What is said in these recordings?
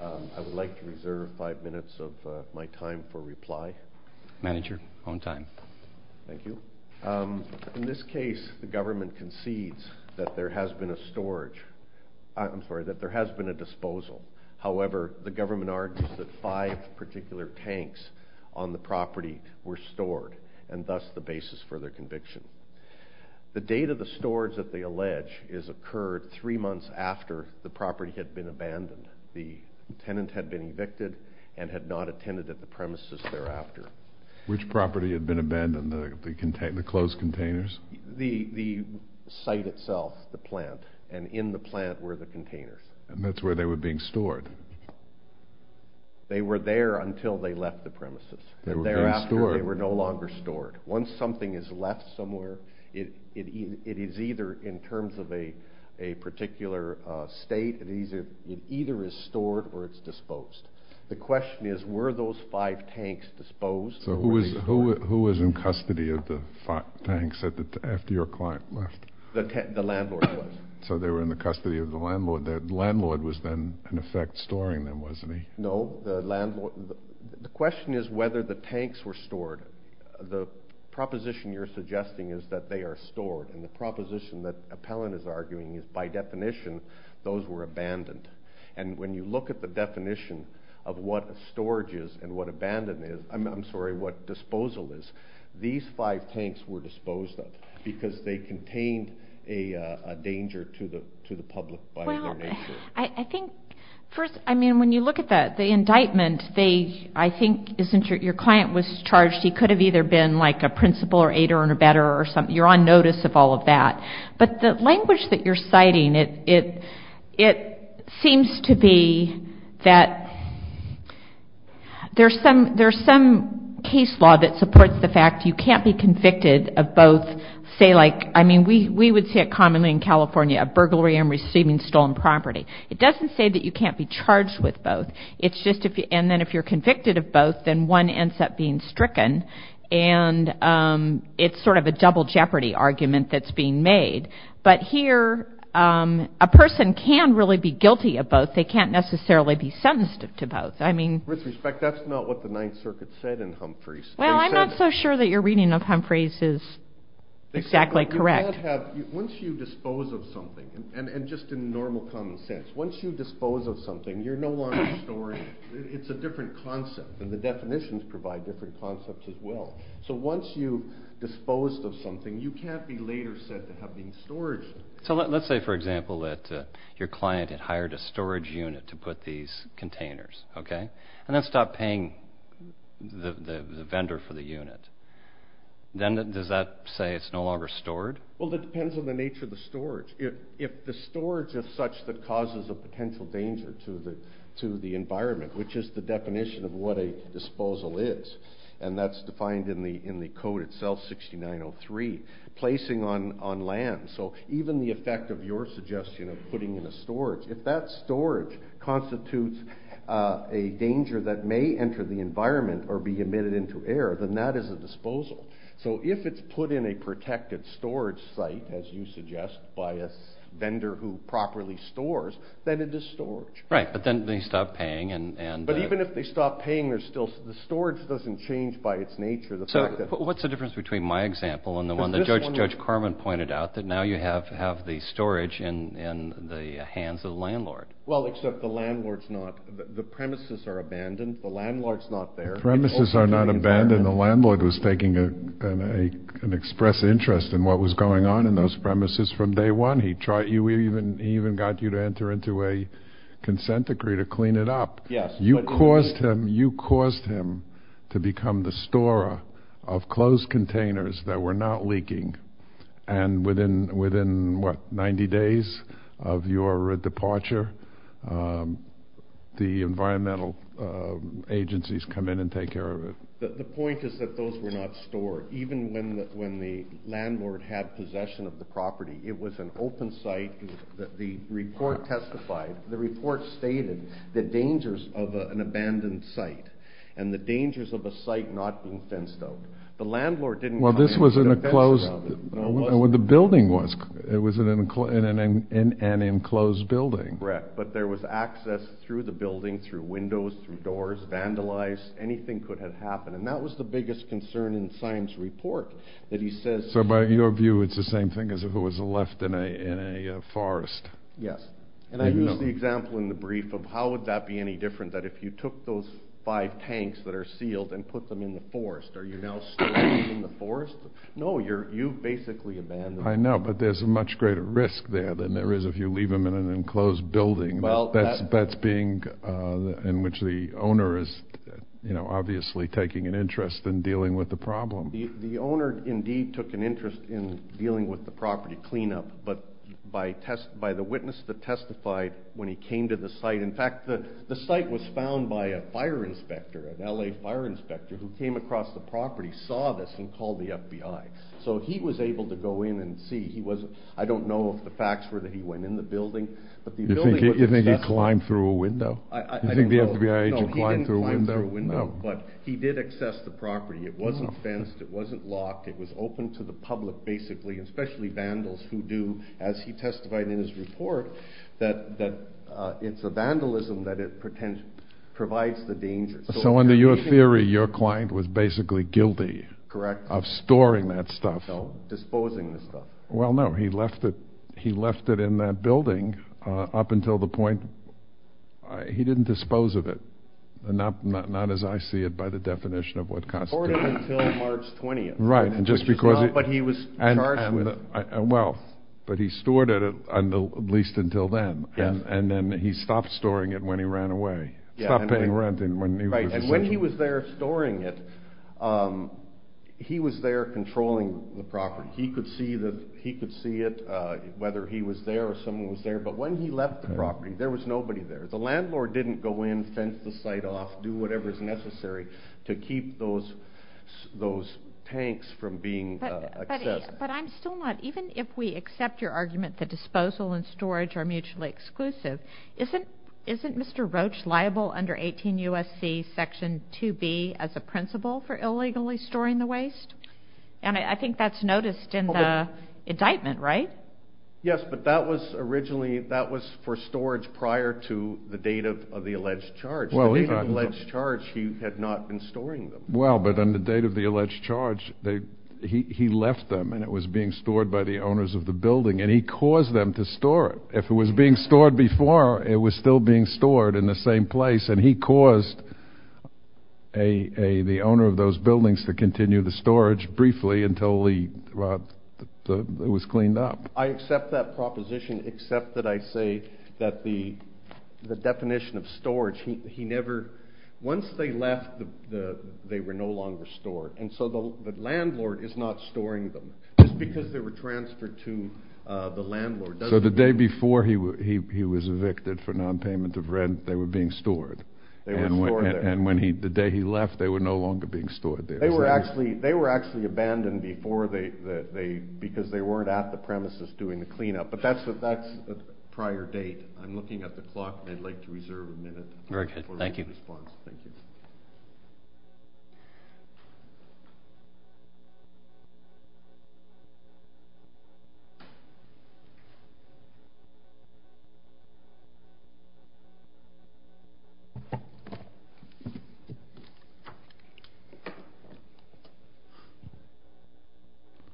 I would like to reserve five minutes of my time for reply. Manager, on time. Thank you. In this case, the government concedes that there has been a storage, I'm sorry, that there has been a disposal. However, the government argues that five particular tanks on the property were stored and thus the basis for their conviction. The date of the storage that they allege is occurred three months after the property had been abandoned. The tenant had been evicted and had not attended at the premises thereafter. Which property had been abandoned, the closed containers? The site itself, the plant, and in the plant were the containers. And that's where they were being stored? They were there until they left the premises. And thereafter they were no longer stored. Once something is left somewhere, it is either in terms of a particular state, it either is stored or it's disposed. The question is, were those five tanks disposed? So who was in custody of the five tanks after your client left? The landlord was. So they were in the custody of the landlord. The landlord was then in effect storing them, wasn't he? No. The question is whether the tanks were stored. The proposition you're suggesting is that they are stored. And the proposition that Appellant is arguing is by definition those were abandoned. And when you look at the definition of what storage is and what disposal is, these five tanks were disposed of because they contained a danger to the public by their nature. Well, I think first, I mean, when you look at the indictment, I think since your client was charged, he could have either been like a principal or aider and abetter or something. You're on notice of all of that. But the language that you're citing, it seems to be that there's some case law that supports the fact you can't be convicted of both, say like, I mean, we would say it commonly in California, a burglary and receiving stolen property. It doesn't say that you can't be charged with both. It's just if you're convicted of both, then one ends up being stricken. And it's sort of a double jeopardy argument that's being made. But here, a person can really be guilty of both. They can't necessarily be sentenced to both. I mean. With respect, that's not what the Ninth Circuit said in Humphreys. Well, I'm not so sure that your reading of Humphreys is exactly correct. Once you dispose of something, and just in normal common sense, once you dispose of something, you're no longer storing it. It's a different concept. And the definitions provide different concepts as well. So once you've disposed of something, you can't be later said to have been storaged. So let's say, for example, that your client had hired a storage unit to put these containers, okay? And then stopped paying the vendor for the unit. Then does that say it's no longer stored? Well, it depends on the nature of the storage. If the storage is such that causes a potential danger to the environment, which is the definition of what a disposal is, and that's defined in the code itself, 6903, placing on land. So even the effect of your suggestion of putting in a storage, if that storage constitutes a danger that may enter the environment or be emitted into air, then that is a disposal. So if it's put in a protected storage site, as you suggest, by a vendor who properly stores, then it is storage. Right, but then they stop paying. But even if they stop paying, the storage doesn't change by its nature. So what's the difference between my example and the one that Judge Carmen pointed out, that now you have the storage in the hands of the landlord? Well, except the landlord's not. The premises are abandoned. The landlord's not there. The premises are not abandoned. The landlord was taking an express interest in what was going on in those premises from day one. He even got you to enter into a consent decree to clean it up. Yes. You caused him to become the storer of closed containers that were not leaking, and within, what, 90 days of your departure, the environmental agencies come in and take care of it. The point is that those were not stored. Even when the landlord had possession of the property, it was an open site. The report stated the dangers of an abandoned site and the dangers of a site not being fenced out. Well, this was in a closed, what the building was. It was in an enclosed building. Correct. But there was access through the building, through windows, through doors, vandalized. Anything could have happened. And that was the biggest concern in Syme's report, that he says So by your view, it's the same thing as if it was left in a forest. Yes. And I used the example in the brief of how would that be any different, that if you took those five tanks that are sealed and put them in the forest, are you now still using the forest? No, you've basically abandoned it. I know, but there's a much greater risk there than there is if you leave them in an enclosed building. That's being, in which the owner is obviously taking an interest in dealing with the problem. The owner indeed took an interest in dealing with the property cleanup, but by the witness that testified when he came to the site, in fact, the site was found by a fire inspector, an L.A. fire inspector, who came across the property, saw this, and called the FBI. So he was able to go in and see. I don't know if the facts were that he went in the building, but the building was accessible. You think he climbed through a window? I don't know. You think the FBI agent climbed through a window? No, he didn't climb through a window, but he did access the property. It wasn't fenced. It wasn't locked. It was open to the public basically, especially vandals who do, as he testified in his report, that it's a vandalism that provides the danger. So under your theory, your client was basically guilty of storing that stuff. Correct. Disposing the stuff. Well, no. He left it in that building up until the point. He didn't dispose of it, not as I see it by the definition of what constitutes it. He stored it until March 20th. Right. Which is not what he was charged with. Well, but he stored it at least until then, and then he stopped storing it when he ran away. Stopped paying rent when he was there. Right, and when he was there storing it, he was there controlling the property. He could see it, whether he was there or someone was there. But when he left the property, there was nobody there. The landlord didn't go in, fence the site off, do whatever is necessary to keep those tanks from being accessed. But I'm still not, even if we accept your argument that disposal and storage are mutually exclusive, isn't Mr. Roach liable under 18 U.S.C. Section 2B as a principle for illegally storing the waste? And I think that's noticed in the indictment, right? Yes, but that was originally, that was for storage prior to the date of the alleged charge. The date of the alleged charge, he had not been storing them. Well, but on the date of the alleged charge, he left them, and it was being stored by the owners of the building, and he caused them to store it. If it was being stored before, it was still being stored in the same place, and he caused the owner of those buildings to continue the storage briefly until it was cleaned up. I accept that proposition, except that I say that the definition of storage, he never, once they left, they were no longer stored. And so the landlord is not storing them, just because they were transferred to the landlord. So the day before he was evicted for nonpayment of rent, they were being stored. They were stored there. And the day he left, they were no longer being stored there. They were actually abandoned before they, because they weren't at the premises doing the cleanup. But that's a prior date. Very good. Thank you.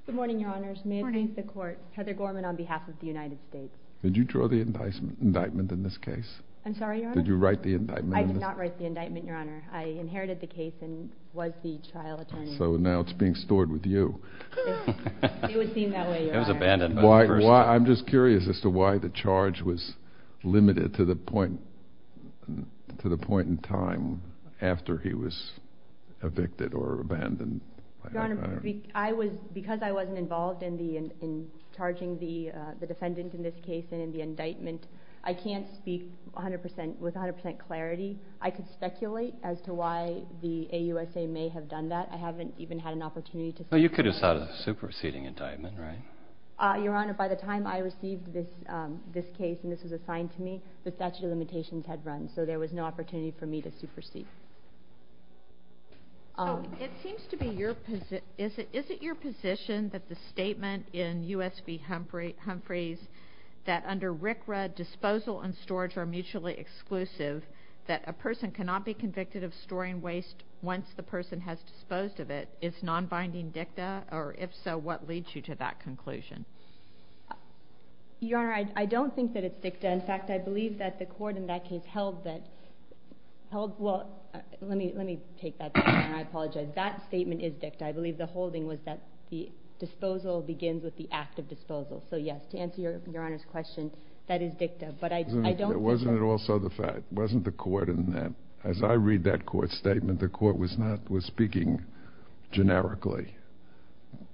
Good morning, Your Honors. May it please the Court. Heather Gorman on behalf of the United States. Did you draw the indictment in this case? I'm sorry, Your Honor? Did you write the indictment? I did not write the indictment, Your Honor. I inherited the case and was the trial attorney. So now it's being stored with you. It would seem that way, Your Honor. It was abandoned. I'm just curious as to why the charge was limited to the point in time after he was evicted or abandoned. Your Honor, because I wasn't involved in charging the defendant in this case and in the indictment, I can't speak with 100% clarity. I could speculate as to why the AUSA may have done that. I haven't even had an opportunity to. But you could have sought a superseding indictment, right? Your Honor, by the time I received this case and this was assigned to me, the statute of limitations had run. So there was no opportunity for me to supersede. Is it your position that the statement in U.S. v. Humphreys that under RCRA, disposal and storage are mutually exclusive, that a person cannot be convicted of storing waste once the person has disposed of it, is non-binding dicta? Or if so, what leads you to that conclusion? Your Honor, I don't think that it's dicta. In fact, I believe that the court in that case held that, well, let me take that back. I apologize. That statement is dicta. I believe the holding was that the disposal begins with the act of disposal. So yes, to answer Your Honor's question, that is dicta. But I don't think that… Wasn't it also the fact, wasn't the court in that? As I read that court statement, the court was speaking generically.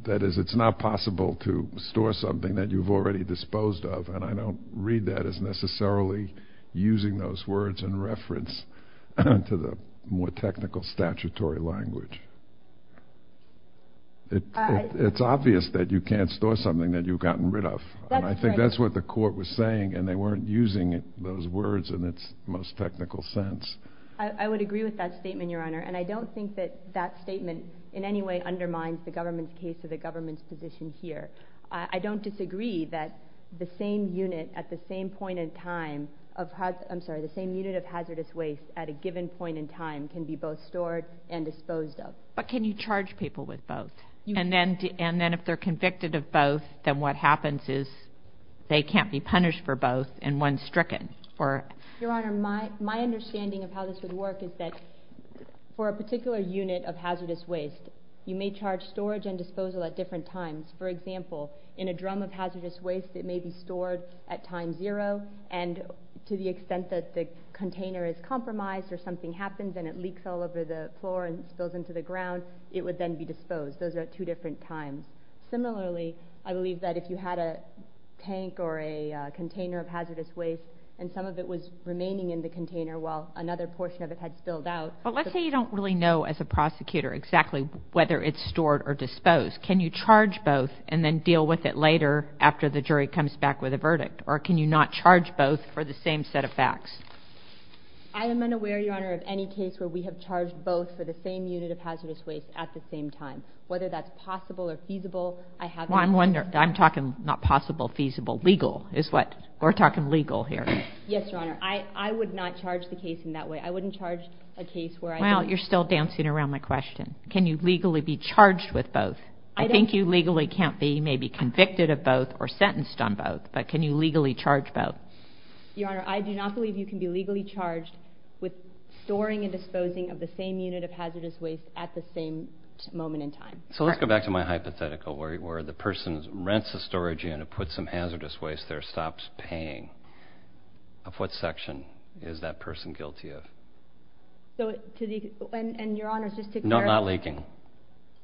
That is, it's not possible to store something that you've already disposed of. And I don't read that as necessarily using those words in reference to the more technical statutory language. It's obvious that you can't store something that you've gotten rid of. And I think that's what the court was saying, and they weren't using those words in its most technical sense. I would agree with that statement, Your Honor. And I don't think that that statement in any way undermines the government's case or the government's position here. I don't disagree that the same unit of hazardous waste at a given point in time can be both stored and disposed of. But can you charge people with both? And then if they're convicted of both, then what happens is they can't be punished for both, and one's stricken. Your Honor, my understanding of how this would work is that for a particular unit of hazardous waste, you may charge storage and disposal at different times. For example, in a drum of hazardous waste, it may be stored at time zero, and to the extent that the container is compromised or something happens and it leaks all over the floor and spills into the ground, it would then be disposed. Those are two different times. Similarly, I believe that if you had a tank or a container of hazardous waste and some of it was remaining in the container while another portion of it had spilled out— But let's say you don't really know as a prosecutor exactly whether it's stored or disposed. Can you charge both and then deal with it later after the jury comes back with a verdict? Or can you not charge both for the same set of facts? I am unaware, Your Honor, of any case where we have charged both for the same unit of hazardous waste at the same time. Whether that's possible or feasible, I haven't— Well, I'm wondering—I'm talking not possible, feasible. Legal is what—we're talking legal here. Yes, Your Honor. I would not charge the case in that way. I wouldn't charge a case where I don't— Well, you're still dancing around my question. Can you legally be charged with both? I think you legally can't be maybe convicted of both or sentenced on both, but can you legally charge both? Your Honor, I do not believe you can be legally charged with storing and disposing of the same unit of hazardous waste at the same moment in time. So let's go back to my hypothetical where the person rents a storage unit, puts some hazardous waste there, stops paying. Of what section is that person guilty of? So to the—and Your Honor, just to clarify— It's not leaking.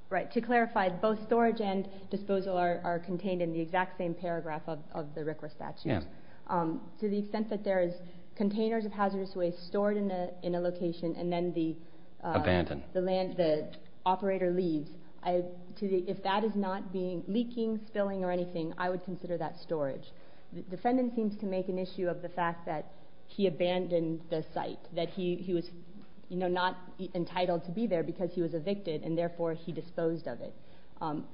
Right. To clarify, both storage and disposal are contained in the exact same paragraph of the RCRA statute. Yes. To the extent that there is containers of hazardous waste stored in a location and then the— Abandoned. The land—the operator leaves, to the—if that is not being—leaking, spilling, or anything, I would consider that storage. The defendant seems to make an issue of the fact that he abandoned the site, that he was not entitled to be there because he was evicted and therefore he disposed of it.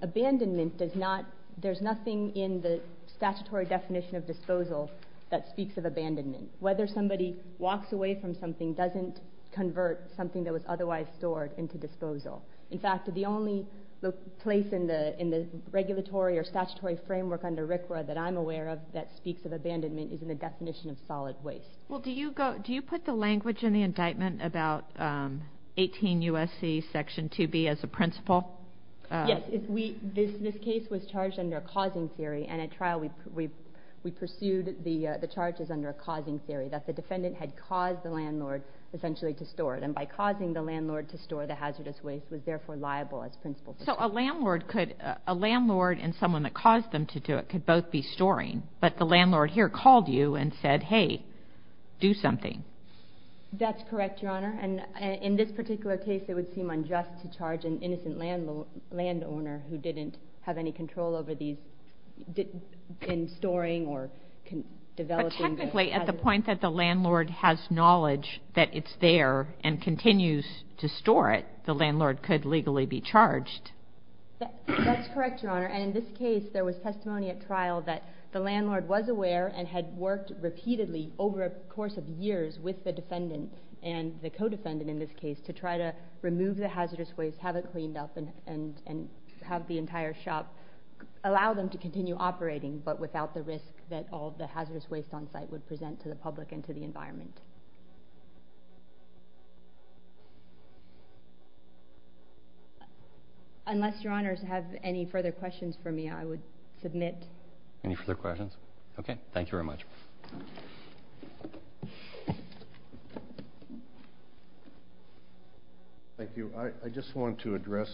Abandonment does not—there's nothing in the statutory definition of disposal that speaks of abandonment. Whether somebody walks away from something doesn't convert something that was otherwise stored into disposal. In fact, the only place in the regulatory or statutory framework under RCRA that I'm aware of that speaks of abandonment is in the definition of solid waste. Well, do you go—do you put the language in the indictment about 18 U.S.C. Section 2B as a principle? Yes. If we—this case was charged under a causing theory, and at trial we pursued the charges under a causing theory, that the defendant had caused the landlord, essentially, to store it. And by causing the landlord to store the hazardous waste was therefore liable as principle. So a landlord could—a landlord and someone that caused them to do it could both be storing, but the landlord here called you and said, hey, do something. That's correct, Your Honor. And in this particular case, it would seem unjust to charge an innocent landowner who didn't have any control over these in storing or developing the hazardous waste. To the point that the landlord has knowledge that it's there and continues to store it, the landlord could legally be charged. That's correct, Your Honor. And in this case, there was testimony at trial that the landlord was aware and had worked repeatedly over a course of years with the defendant and the co-defendant in this case to try to remove the hazardous waste, have it cleaned up, and have the entire shop allow them to continue operating, but without the risk that all of the hazardous waste on site would present to the public and to the environment. Unless Your Honors have any further questions for me, I would submit. Any further questions? Okay. Thank you very much. Thank you. I just want to address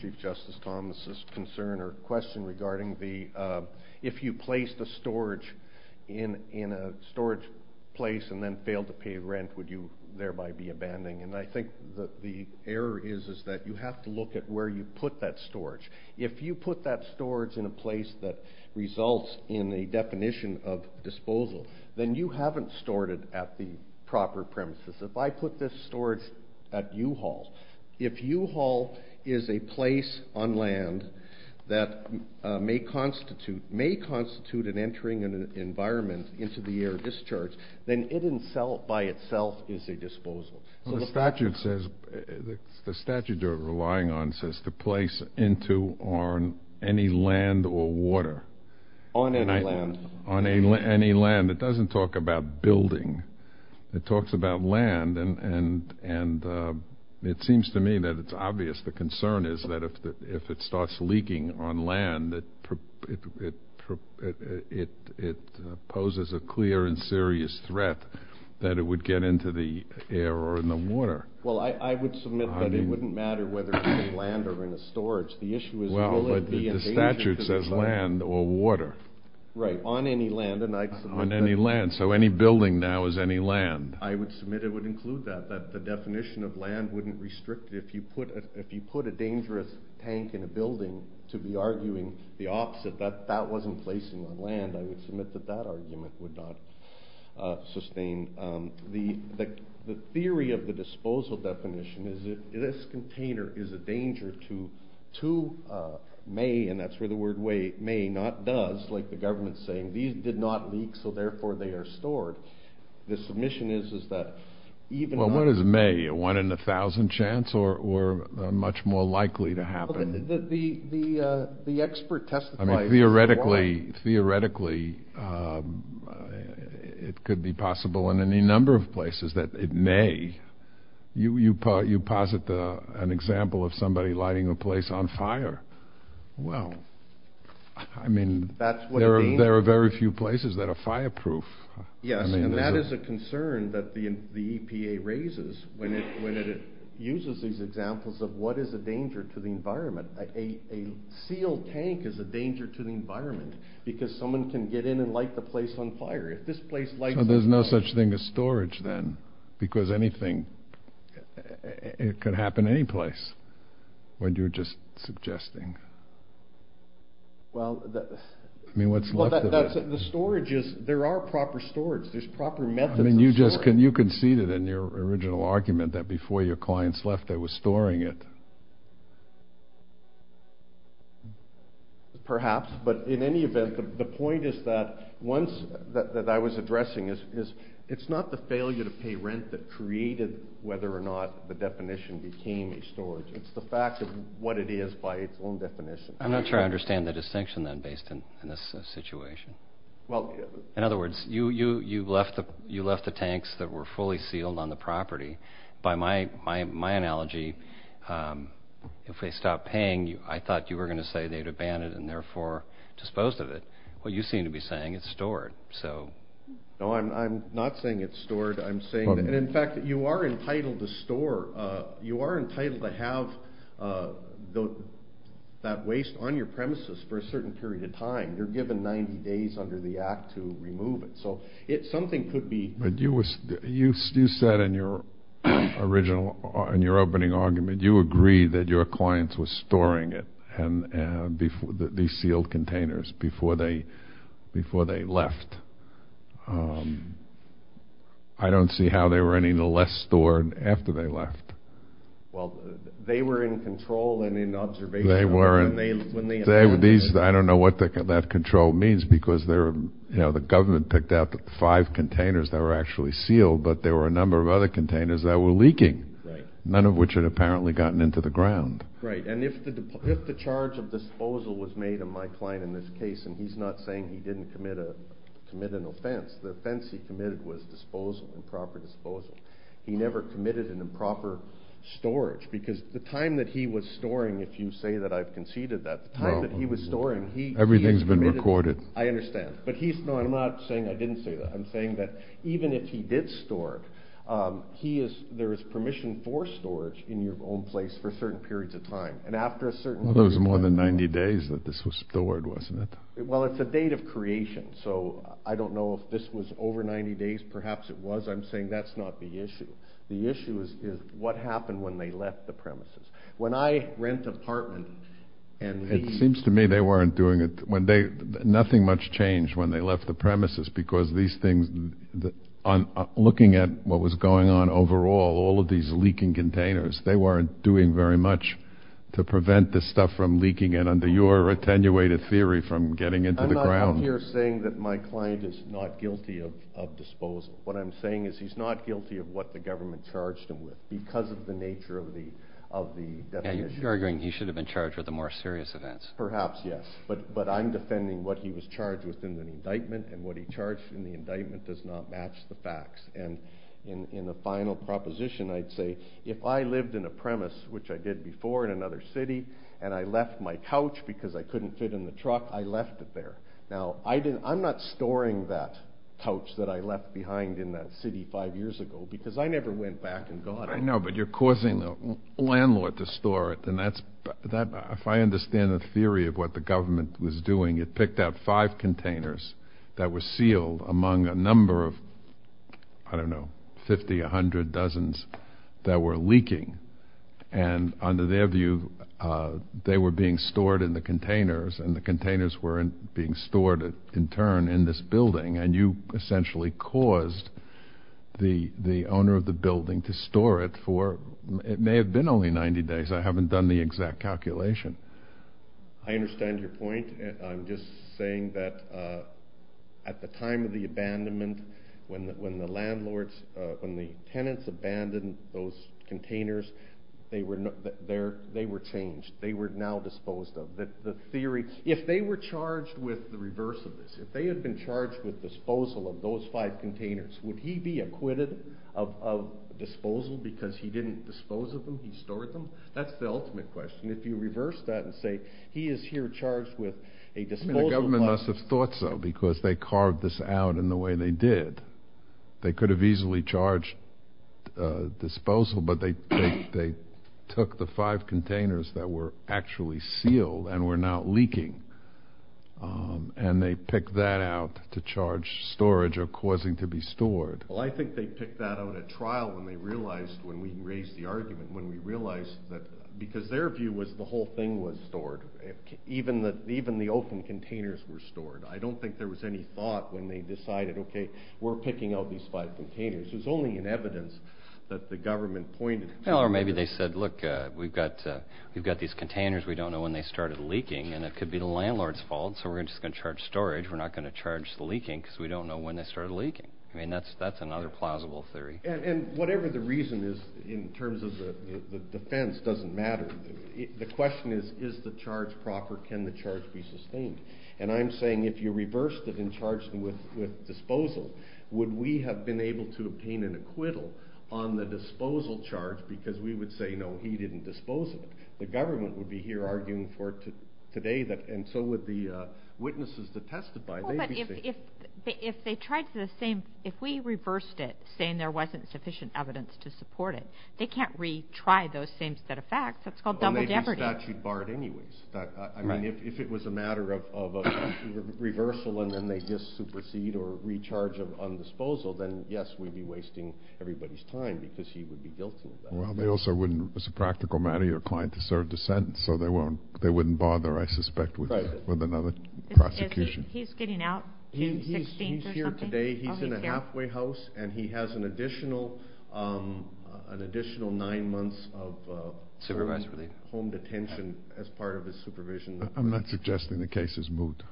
Chief Justice Thomas' concern or question regarding the if you place the storage in a storage place and then fail to pay rent, would you thereby be abandoning? And I think the error is that you have to look at where you put that storage. If you put that storage in a place that results in a definition of disposal, then you haven't stored it at the proper premises. If I put this storage at U-Haul, if U-Haul is a place on land that may constitute an entering environment into the air discharge, then it by itself is a disposal. The statute you're relying on says to place into or on any land or water. On any land. On any land. It doesn't talk about building. It talks about land. And it seems to me that it's obvious the concern is that if it starts leaking on land, it poses a clear and serious threat that it would get into the air or in the water. Well, I would submit that it wouldn't matter whether it's in land or in a storage. The issue is will it be in danger to the site? Well, but the statute says land or water. Right. On any land. On any land. So any building now is any land. I would submit it would include that, that the definition of land wouldn't restrict it. If you put a dangerous tank in a building to be arguing the opposite, that wasn't placing on land, I would submit that that argument would not sustain. The theory of the disposal definition is that this container is a danger to may, and that's where the word may, not does, like the government's saying. These did not leak, so therefore they are stored. The submission is that even— Well, what is may? A one in a thousand chance or much more likely to happen? The expert testifies— Theoretically, it could be possible in any number of places that it may. You posit an example of somebody lighting a place on fire. Well, I mean, there are very few places that are fireproof. Yes, and that is a concern that the EPA raises when it uses these examples of what is a danger to the environment. A sealed tank is a danger to the environment because someone can get in and light the place on fire. So there's no such thing as storage, then, because anything—it could happen anyplace when you're just suggesting. Well, that's— I mean, what's left of it? The storage is—there are proper storage. There's proper methods of storage. I mean, you conceded in your original argument that before your clients left, they were storing it. Perhaps, but in any event, the point is that once—that I was addressing is it's not the failure to pay rent that created whether or not the definition became a storage. It's the fact of what it is by its own definition. I'm not sure I understand the distinction, then, based in this situation. In other words, you left the tanks that were fully sealed on the property. By my analogy, if they stopped paying, I thought you were going to say they had abandoned and, therefore, disposed of it. Well, you seem to be saying it's stored. So— No, I'm not saying it's stored. I'm saying—and, in fact, you are entitled to store. You are entitled to have that waste on your premises for a certain period of time. You're given 90 days under the Act to remove it. So something could be— But you said in your original—in your opening argument, you agreed that your clients were storing it, these sealed containers, before they left. I don't see how they were any less stored after they left. Well, they were in control and in observation. They were. I don't know what that control means because the government picked out the five containers that were actually sealed, but there were a number of other containers that were leaking, none of which had apparently gotten into the ground. Right. And if the charge of disposal was made on my client in this case—and he's not saying he didn't commit an offense. The offense he committed was disposal, improper disposal. He never committed an improper storage because the time that he was storing, if you say that I've conceded that, the time that he was storing, he— Everything's been recorded. I understand. But he's—no, I'm not saying I didn't say that. I'm saying that even if he did store it, he is—there is permission for storage in your own place for certain periods of time. And after a certain— Well, there was more than 90 days that this was stored, wasn't it? Well, it's a date of creation, so I don't know if this was over 90 days. Perhaps it was. I'm saying that's not the issue. The issue is what happened when they left the premises. When I rent an apartment and— It seems to me they weren't doing—nothing much changed when they left the premises because these things—looking at what was going on overall, all of these leaking containers, they weren't doing very much to prevent this stuff from leaking and under your attenuated theory from getting into the ground. I'm not out here saying that my client is not guilty of disposal. What I'm saying is he's not guilty of what the government charged him with because of the nature of the definition. You're arguing he should have been charged with the more serious events. Perhaps, yes. But I'm defending what he was charged with in the indictment and what he charged in the indictment does not match the facts. And in the final proposition, I'd say if I lived in a premise, which I did before in another city, and I left my couch because I couldn't fit in the truck, I left it there. Now, I'm not storing that couch that I left behind in that city five years ago because I never went back and got it. I know, but you're causing the landlord to store it. If I understand the theory of what the government was doing, it picked out five containers that were sealed among a number of, I don't know, 50, 100, dozens that were leaking. And under their view, they were being stored in the containers and the containers were being stored in turn in this building. And you essentially caused the owner of the building to store it for, it may have been only 90 days. I haven't done the exact calculation. I understand your point. I'm just saying that at the time of the abandonment, when the landlords, when the tenants abandoned those containers, they were changed. They were now disposed of. The theory, if they were charged with the reverse of this, if they had been charged with disposal of those five containers, would he be acquitted of disposal because he didn't dispose of them? He stored them? That's the ultimate question. If you reverse that and say he is here charged with a disposal of five containers. The government must have thought so because they carved this out in the way they did. They could have easily charged disposal, but they took the five containers that were actually sealed and were now leaking. And they picked that out to charge storage or causing to be stored. Well, I think they picked that out at trial when they realized, when we raised the argument, when we realized that, because their view was the whole thing was stored. Even the open containers were stored. I don't think there was any thought when they decided, okay, we're picking out these five containers. It was only in evidence that the government pointed. Or maybe they said, look, we've got these containers. We don't know when they started leaking. And it could be the landlord's fault, so we're just going to charge storage. We're not going to charge the leaking because we don't know when they started leaking. I mean, that's another plausible theory. And whatever the reason is in terms of the defense doesn't matter. The question is, is the charge proper? Can the charge be sustained? And I'm saying if you reversed it and charged with disposal, would we have been able to obtain an acquittal on the disposal charge? Because we would say, no, he didn't dispose of it. The government would be here arguing for it today. And so would the witnesses that testified. Well, but if they tried the same, if we reversed it, saying there wasn't sufficient evidence to support it, they can't retry those same set of facts. That's called double jeopardy. Well, maybe the statute barred it anyways. I mean, if it was a matter of a reversal and then they just supersede or recharge on disposal, then, yes, we'd be wasting everybody's time because he would be guilty of that. Well, they also wouldn't, as a practical matter, your client deserved a sentence, so they wouldn't bother, I suspect, with another prosecution. He's getting out June 16th or something? He's here today. Oh, he's here. He's in a halfway house, and he has an additional nine months of home detention as part of his supervision. I'm not suggesting the case is moot.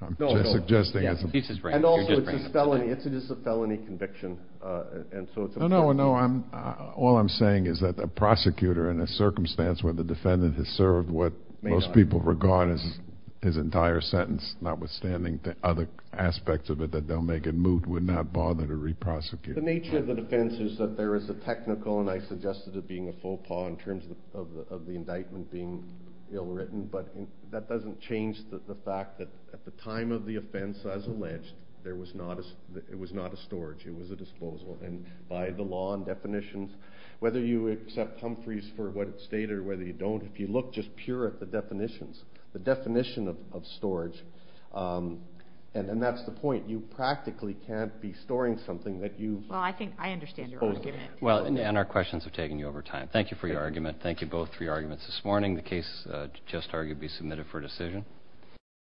No, no. I'm just suggesting it's a felony conviction. No, no, no. All I'm saying is that a prosecutor in a circumstance where the defendant has served what most people regard as his entire sentence, notwithstanding the other aspects of it that they'll make it moot, would not bother to re-prosecute. The nature of the defense is that there is a technical, and I suggested it being a faux pas in terms of the indictment being ill-written, but that doesn't change the fact that at the time of the offense, as alleged, it was not a storage. It was a disposal. And by the law and definitions, whether you accept Humphreys for what it stated or whether you don't, if you look just pure at the definitions, the definition of storage, and that's the point. You practically can't be storing something that you've supposedly. Well, I think I understand your argument. Well, and our questions have taken you over time. Thank you for your argument. Thank you both for your arguments this morning. The case is just arguably submitted for decision.